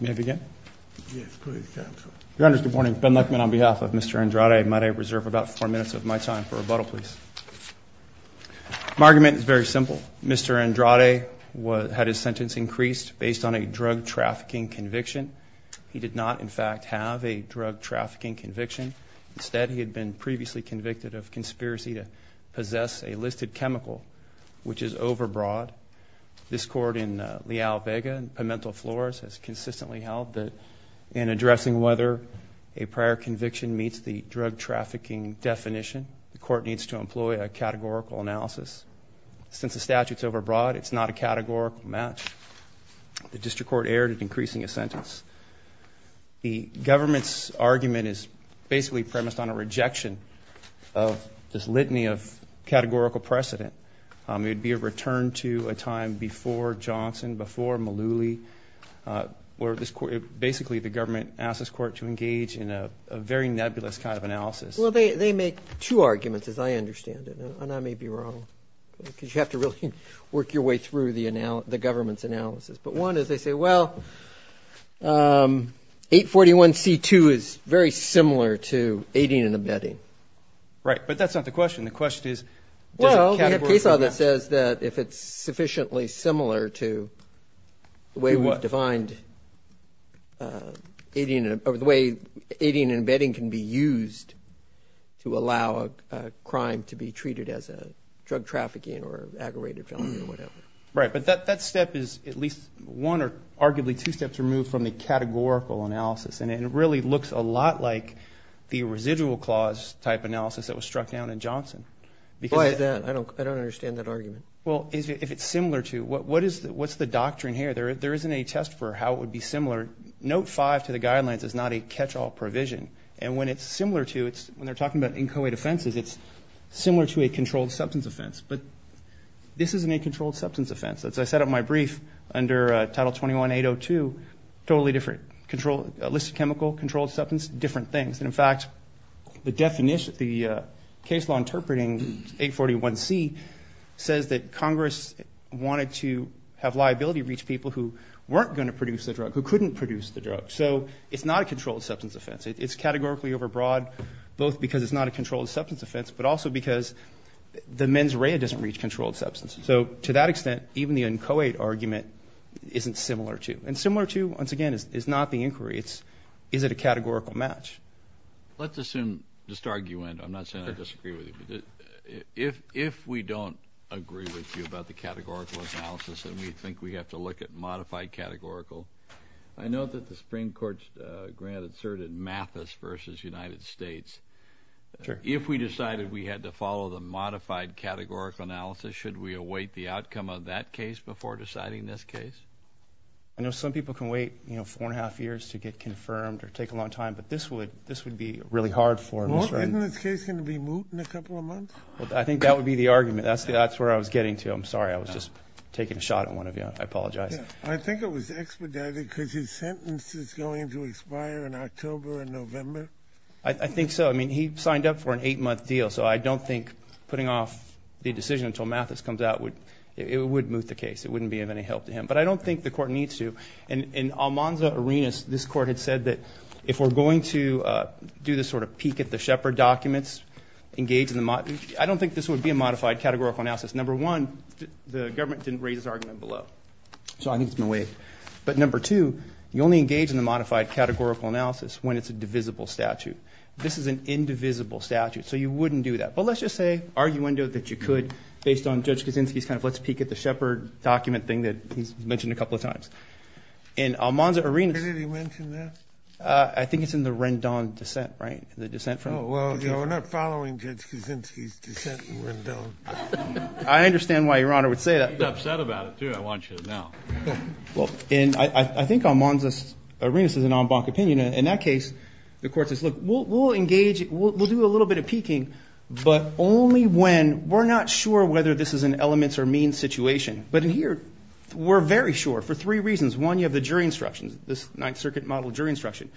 May I begin? Your Honor, good morning. Ben Luckman on behalf of Mr. Andrade. Might I reserve about four minutes of my time for rebuttal, please? My argument is very simple. Mr. Andrade had his sentence increased based on a drug trafficking conviction. He did not, in fact, have a drug trafficking conviction. Instead, he had been previously convicted of conspiracy to possess a listed consistently held that in addressing whether a prior conviction meets the drug trafficking definition, the court needs to employ a categorical analysis. Since the statute's overbroad, it's not a categorical match. The district court erred at increasing a sentence. The government's argument is basically premised on a rejection of this litany of categorical precedent. It would be a turn to a time before Johnson, before Malooly, where basically the government asked this court to engage in a very nebulous kind of analysis. Well, they make two arguments, as I understand it, and I may be wrong, because you have to really work your way through the government's analysis. But one is they say, well, 841c2 is very similar to aiding and abetting. Right, but that's not the question. The question is, well, we have a case law that says that if it's sufficiently similar to the way we've defined aiding and abetting can be used to allow a crime to be treated as a drug trafficking or aggravated felony or whatever. Right, but that step is at least one or arguably two steps removed from the categorical analysis, and it really looks a lot like the residual clause type analysis that was struck down in Johnson. Why is that? I don't understand that argument. Well, if it's similar to, what's the doctrine here? There isn't a test for how it would be similar. Note 5 to the guidelines is not a catch-all provision, and when it's similar to, when they're talking about inchoate offenses, it's similar to a controlled substance offense. But this isn't a controlled substance offense. As I set up my brief under Title 21-802, totally different. List of chemical, controlled substance, different things. And in fact, the definition, the case law interpreting 841c says that Congress wanted to have liability reach people who weren't going to produce the drug, who couldn't produce the drug. So it's not a controlled substance offense. It's categorically overbroad, both because it's not a controlled substance offense, but also because the mens rea doesn't reach controlled substance. So to that extent, even the inchoate argument isn't similar to. And similar to, once again, is not the inquiry. It's, is it a categorical match? Let's assume, just argument, I'm not saying I disagree with you, but if, if we don't agree with you about the categorical analysis and we think we have to look at modified categorical, I note that the Supreme Court's grant asserted Mathis versus United States. If we decided we had to follow the modified categorical analysis, should we await the outcome of that case before deciding this case? I know some people can wait, you know, four and a half years to get confirmed or take a long time, but this would, this would be really hard for him. Isn't this case going to be moot in a couple of months? I think that would be the argument. That's the, that's where I was getting to. I'm sorry. I was just taking a shot at one of you. I apologize. I think it was expedited because his sentence is going to expire in October and November. I think so. I mean, he signed up for an eight-month deal. So I don't think putting off the decision until Mathis comes out would, it would moot the case. It wouldn't be of any help to him. But I think this, this court had said that if we're going to do this sort of peek at the Shepard documents, engage in the, I don't think this would be a modified categorical analysis. Number one, the government didn't raise his argument below. So I think it's been waived. But number two, you only engage in the modified categorical analysis when it's a divisible statute. This is an indivisible statute. So you wouldn't do that. But let's just say, arguendo that you could, based on Judge Kaczynski's kind of let's peek at the Shepard document thing that he's mentioned a couple of times. In Almanza Arenas... When did he mention that? I think it's in the Rendon dissent, right? The dissent from... Well, we're not following Judge Kaczynski's dissent in Rendon. I understand why Your Honor would say that. He's upset about it, too. I want you to know. Well, and I think Almanza Arenas is an en banc opinion. In that case, the court says, look, we'll engage, we'll do a little bit of peeking, but only when, we're not sure whether this is an elements or means situation. But in here, we're very sure for three reasons. One, you have the jury instructions, this Ninth Circuit model jury instruction.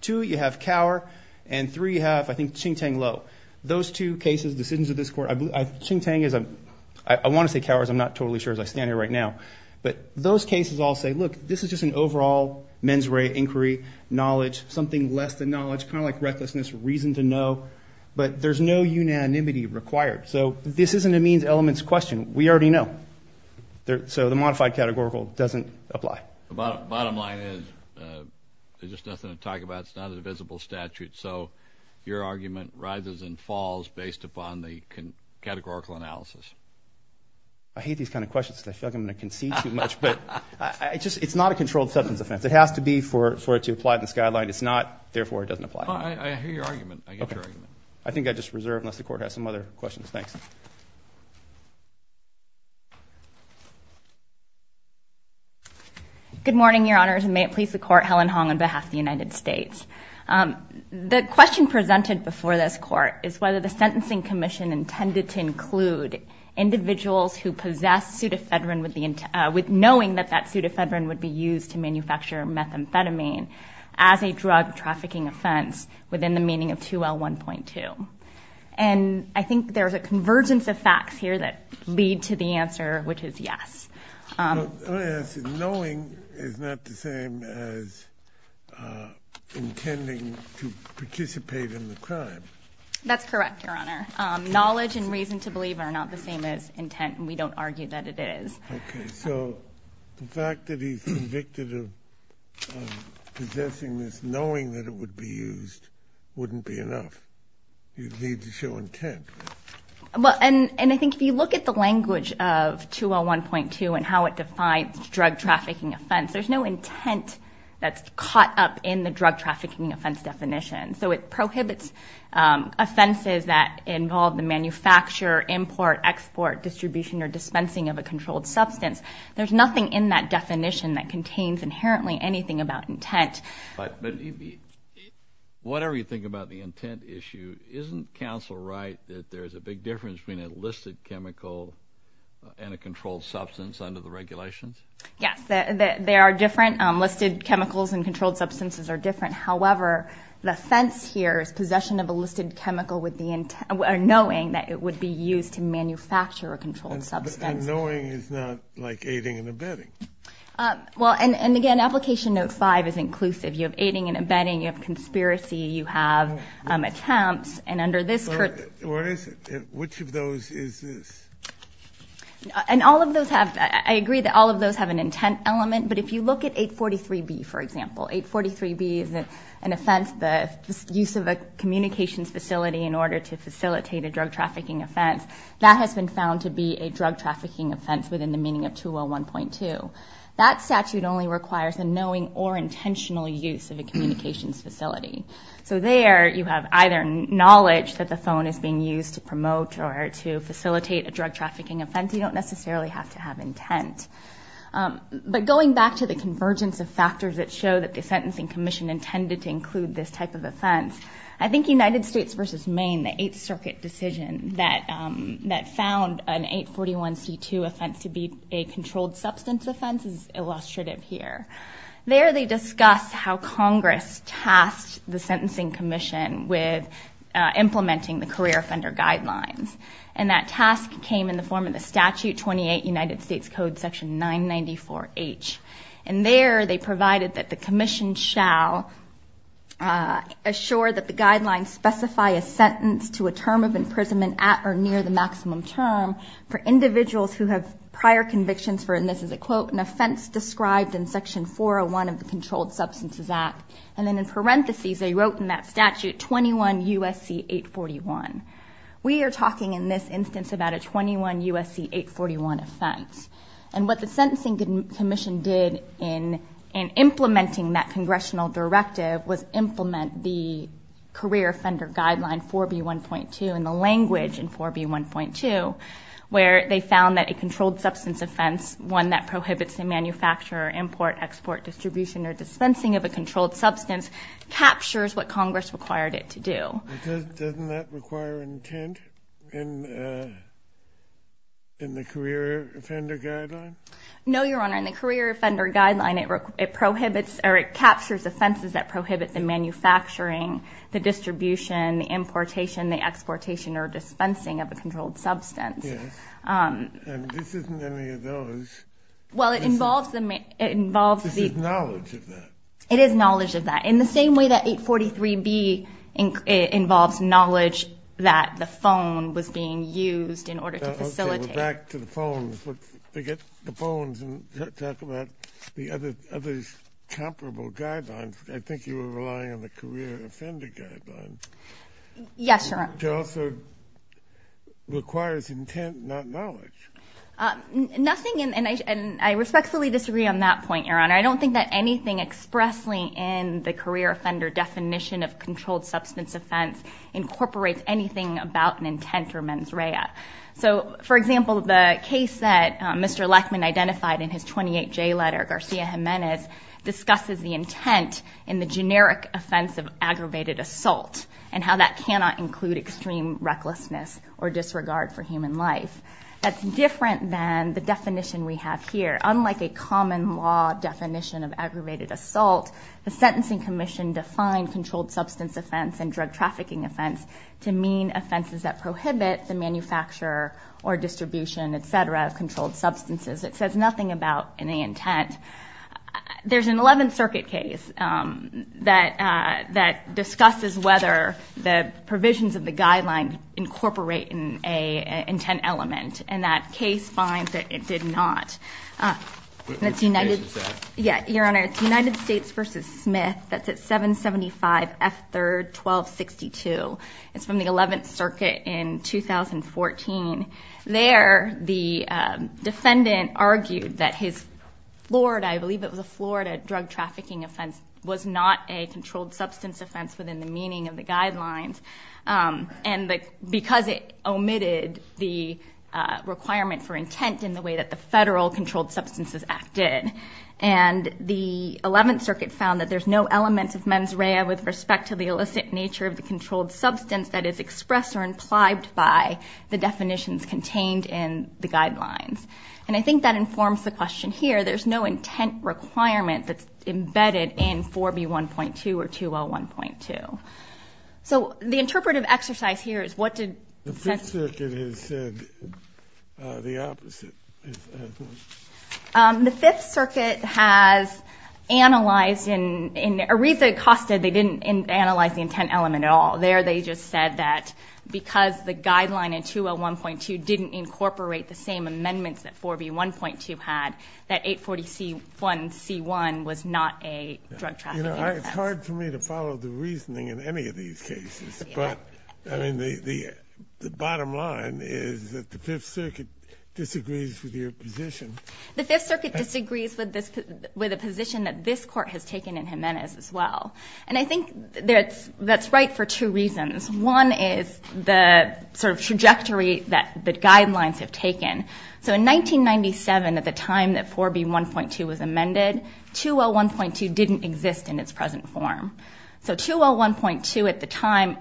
Two, you have cower. And three, you have, I think, ching tang lo. Those two cases, decisions of this court, ching tang is a... I want to say cowers. I'm not totally sure as I stand here right now. But those cases all say, look, this is just an overall mens re inquiry, knowledge, something less than knowledge, kind of like recklessness, reason to know. But there's no unanimity required. So this isn't a means elements question. We already know. So the modified categorical doesn't apply. The bottom line is, there's just nothing to talk about. It's not a divisible statute. So your argument rises and falls based upon the categorical analysis. I hate these kind of questions because I feel like I'm going to concede too much. But I just, it's not a controlled substance offense. It has to be for it to apply to this guideline. It's not, therefore, it doesn't apply. I hear your argument. I get your argument. I think I just reserve unless the court has some other questions. Thanks. Good morning, your honors. And may it please the court, Helen Hong on behalf of the United States. The question presented before this court is whether the Sentencing Commission intended to include individuals who possess pseudofedrin with knowing that that pseudofedrin would be used to manufacture methamphetamine as a drug trafficking offense within the meaning of 2L1.2. And I think there's a convergence of facts here that lead to the answer, which is yes. Knowing is not the same as intending to participate in the crime. That's correct, your honor. Knowledge and reason to believe are not the same as intent. And we don't argue that it is. Okay. So the fact that he's convicted of possessing this knowing that it would be used wouldn't be enough. You'd need to show intent. Well, and I think if you look at the language of 2L1.2 and how it defines drug trafficking offense, there's no intent that's caught up in the drug trafficking offense definition. So it prohibits offenses that involve the manufacture, import, export, distribution, or dispensing of a controlled substance. There's nothing in that definition that contains inherently anything about intent. Whatever you think about the intent issue, isn't counsel right that there's a big difference between a listed chemical and a controlled substance under the regulations? Yes, they are different. Listed chemicals and controlled substances are different. However, the fence here is possession of a listed chemical with the intent or knowing that it would be used to manufacture a controlled substance. And knowing is not like aiding and abetting. Well, and again, Application Note 5 is inclusive. You have aiding and abetting. You have conspiracy. You have attempts. And under this... What is it? Which of those is this? And all of those have... I agree that all of those have an intent element. But if you look at 843B, for example, 843B is an offense, the use of a drug-trafficking offense, that has been found to be a drug-trafficking offense within the meaning of 201.2. That statute only requires a knowing or intentional use of a communications facility. So there, you have either knowledge that the phone is being used to promote or to facilitate a drug-trafficking offense. You don't necessarily have to have intent. But going back to the convergence of factors that show that the Sentencing Commission intended to include this type of offense, I think United States versus Maine, the Eighth Circuit decision that found an 841C2 offense to be a controlled substance offense is illustrative here. There, they discuss how Congress tasked the Sentencing Commission with implementing the career offender guidelines. And that task came in the form of the Statute 28, United States Code, Section 994H. And there, they provided that the to a term of imprisonment at or near the maximum term for individuals who have prior convictions for, and this is a quote, an offense described in Section 401 of the Controlled Substances Act. And then in parentheses, they wrote in that statute, 21 U.S.C. 841. We are talking in this instance about a 21 U.S.C. 841 offense. And what the Sentencing Commission did in implementing that congressional directive was implement the career offender guideline 4B1.2 and the language in 4B1.2 where they found that a controlled substance offense, one that prohibits the manufacturer, import, export, distribution, or dispensing of a controlled substance captures what Congress required it to do. Doesn't that require intent in the career offender guideline? No, Your Honor. In the career offender guideline, it prohibits or it captures offenses that prohibit the manufacturing, the distribution, the importation, the exportation, or dispensing of a controlled substance. Yes. And this isn't any of those. Well, it involves the... It involves the... This is knowledge of that. It is knowledge of that. In the same way that 843B involves knowledge that the phone was being used in order to facilitate... Okay, we're back to the phones. But forget the phones and talk about the comparable guidelines. I think you were relying on the career offender guideline. Yes, Your Honor. Which also requires intent, not knowledge. Nothing... And I respectfully disagree on that point, Your Honor. I don't think that anything expressly in the career offender definition of controlled substance offense incorporates anything about an intent or mens rea. So, for example, the case that Mr. Lechman identified in his 28J letter, Garcia-Gimenez, discusses the intent in the generic offense of aggravated assault and how that cannot include extreme recklessness or disregard for human life. That's different than the definition we have here. Unlike a common law definition of aggravated assault, the Sentencing Commission defined controlled substance offense and drug trafficking offense to mean offenses that prohibit the manufacture or distribution, et cetera, of controlled substances. It says nothing about any intent. There's an 11th Circuit case that discusses whether the provisions of the guideline incorporate an intent element. And that case finds that it did not. Which case is that? Yeah, Your Honor. It's United States v. Smith. That's at 775 F3rd 1262. It's from the 11th Circuit in 2014. There, the defendant argued that his Florida, I believe it was a Florida drug trafficking offense, was not a controlled substance offense within the meaning of the guidelines. And because it omitted the requirement for intent in the way that the Federal Controlled Substances Act did. And the 11th Circuit found that there's no elements of mens rea with respect to the illicit nature of the controlled substance that is expressed or implied by the definitions contained in the guidelines. And I think that informs the question here. There's no intent requirement that's embedded in 4B1.2 or 2L1.2. So the interpretive exercise here is what did... The 5th Circuit has said the opposite. The 5th Circuit has analyzed in a reason it costed. They didn't analyze the intent element at all. There they just said that because the guideline in 2L1.2 didn't incorporate the same amendments that 4B1.2 had, that 840C1C1 was not a drug trafficking offense. It's hard for me to follow the reasoning in any of these cases. But, I mean, the bottom line is that the 5th Circuit disagrees with your position. The 5th Circuit disagrees with a position that this Court has taken in Jimenez as well. And I think that's right for two reasons. One is the sort of trajectory that the guidelines have taken. So in 1997, at the time that 4B1.2 was amended, 2L1.2 didn't exist in its present form. So 2L1.2 at the time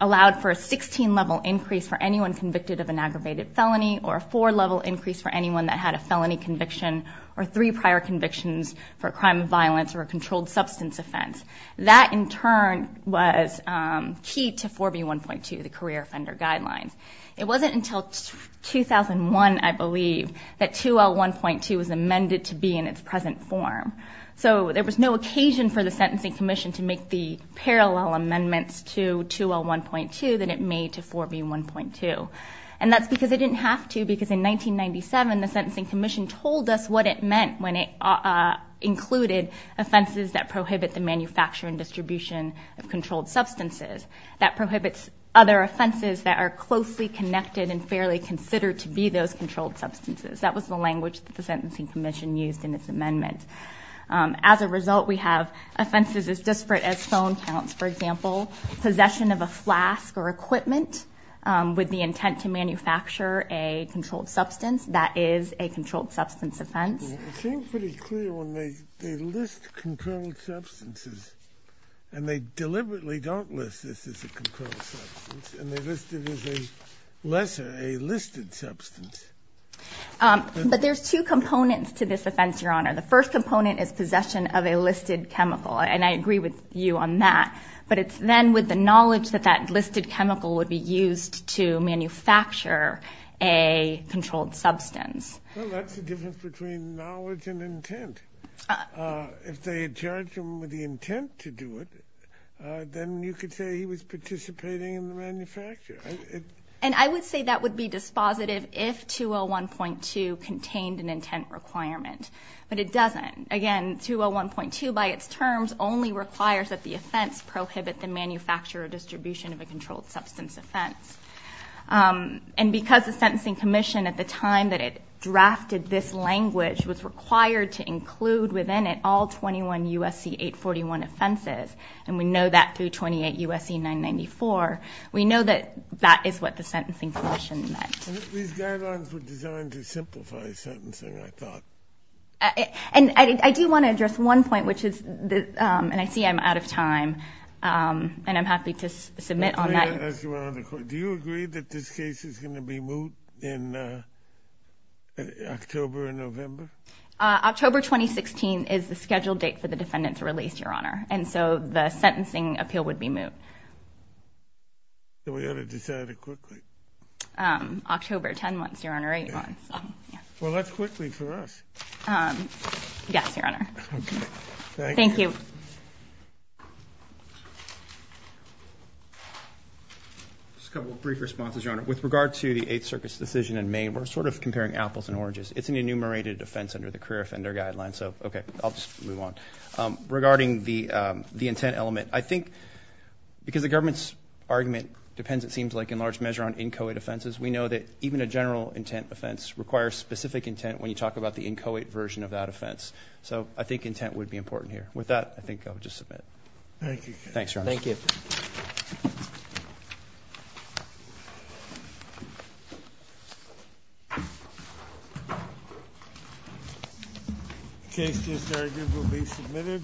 allowed for a 16-level increase for anyone convicted of an aggravated felony or a 4-level increase for anyone that had a felony conviction or three prior convictions for a crime of violence or a controlled substance offense. That, in turn, was key to 4B1.2, the career offender guidelines. It wasn't until 2001, I believe, that 2L1.2 was amended to be in its present form. So there was no occasion for the Sentencing Commission to make the parallel amendments to 2L1.2 that it made to 4B1.2. And that's because it didn't have to, because in 1997, the Sentencing Commission told us what it meant when it included offenses that prohibit the manufacture and distribution of controlled substances, that prohibits other offenses that are closely connected and fairly considered to be those controlled substances. That was the language that the Sentencing Commission used in its amendment. As a result, we have offenses as disparate as phone counts, for example, possession of a flask or equipment with the intent to manufacture a controlled substance. That is a controlled substance offense. It seems pretty clear when they list controlled substances, and they deliberately don't list this as a controlled substance, and they list it as a lesser, a listed substance. But there's two components to this offense, Your Honor. The first component is possession of a listed chemical, and I agree with you on that. But it's then with the knowledge that that listed chemical would be used to manufacture a controlled substance. Well, that's the difference between knowledge and intent. If they charged him with the intent to do it, then you could say he was participating in the manufacture. And I would say that would be dispositive if 2L1.2 contained an intent requirement. But it doesn't. Again, 2L1.2, by its terms, only requires that the offense prohibit the manufacture or distribution of a controlled substance offense. And because the Sentencing Commission at the time that it drafted this language was required to include within it all 21 U.S.C. 841 offenses, and we know that through 28 U.S.C. 994, we know that that is what the Sentencing Commission meant. These guidelines were designed to simplify sentencing, I thought. And I do want to address one point, which is, and I see I'm out of time, and I'm happy to submit on that. Do you agree that this case is going to be moot in October or November? October 2016 is the scheduled date for the defendant's release, Your Honor. And so the sentencing appeal would be moot. So we ought to decide it quickly. October, 10 months, Your Honor, 8 months. Well, that's quickly for us. Yes, Your Honor. Thank you. Just a couple of brief responses, Your Honor. With regard to the Eighth Circuit's decision in May, we're sort of comparing apples and oranges. It's an enumerated offense under the Career Offender Guidelines. So, okay, I'll just move on. Regarding the intent element, I think, because the government's argument depends, it seems like, in large measure, on inchoate offenses, we know that even a general intent offense requires specific intent when you talk about the inchoate version of that offense. So I think intent would be important here. With that, I think I'll just submit. Thank you. Thanks, Your Honor. Thank you. The case just argued will be submitted.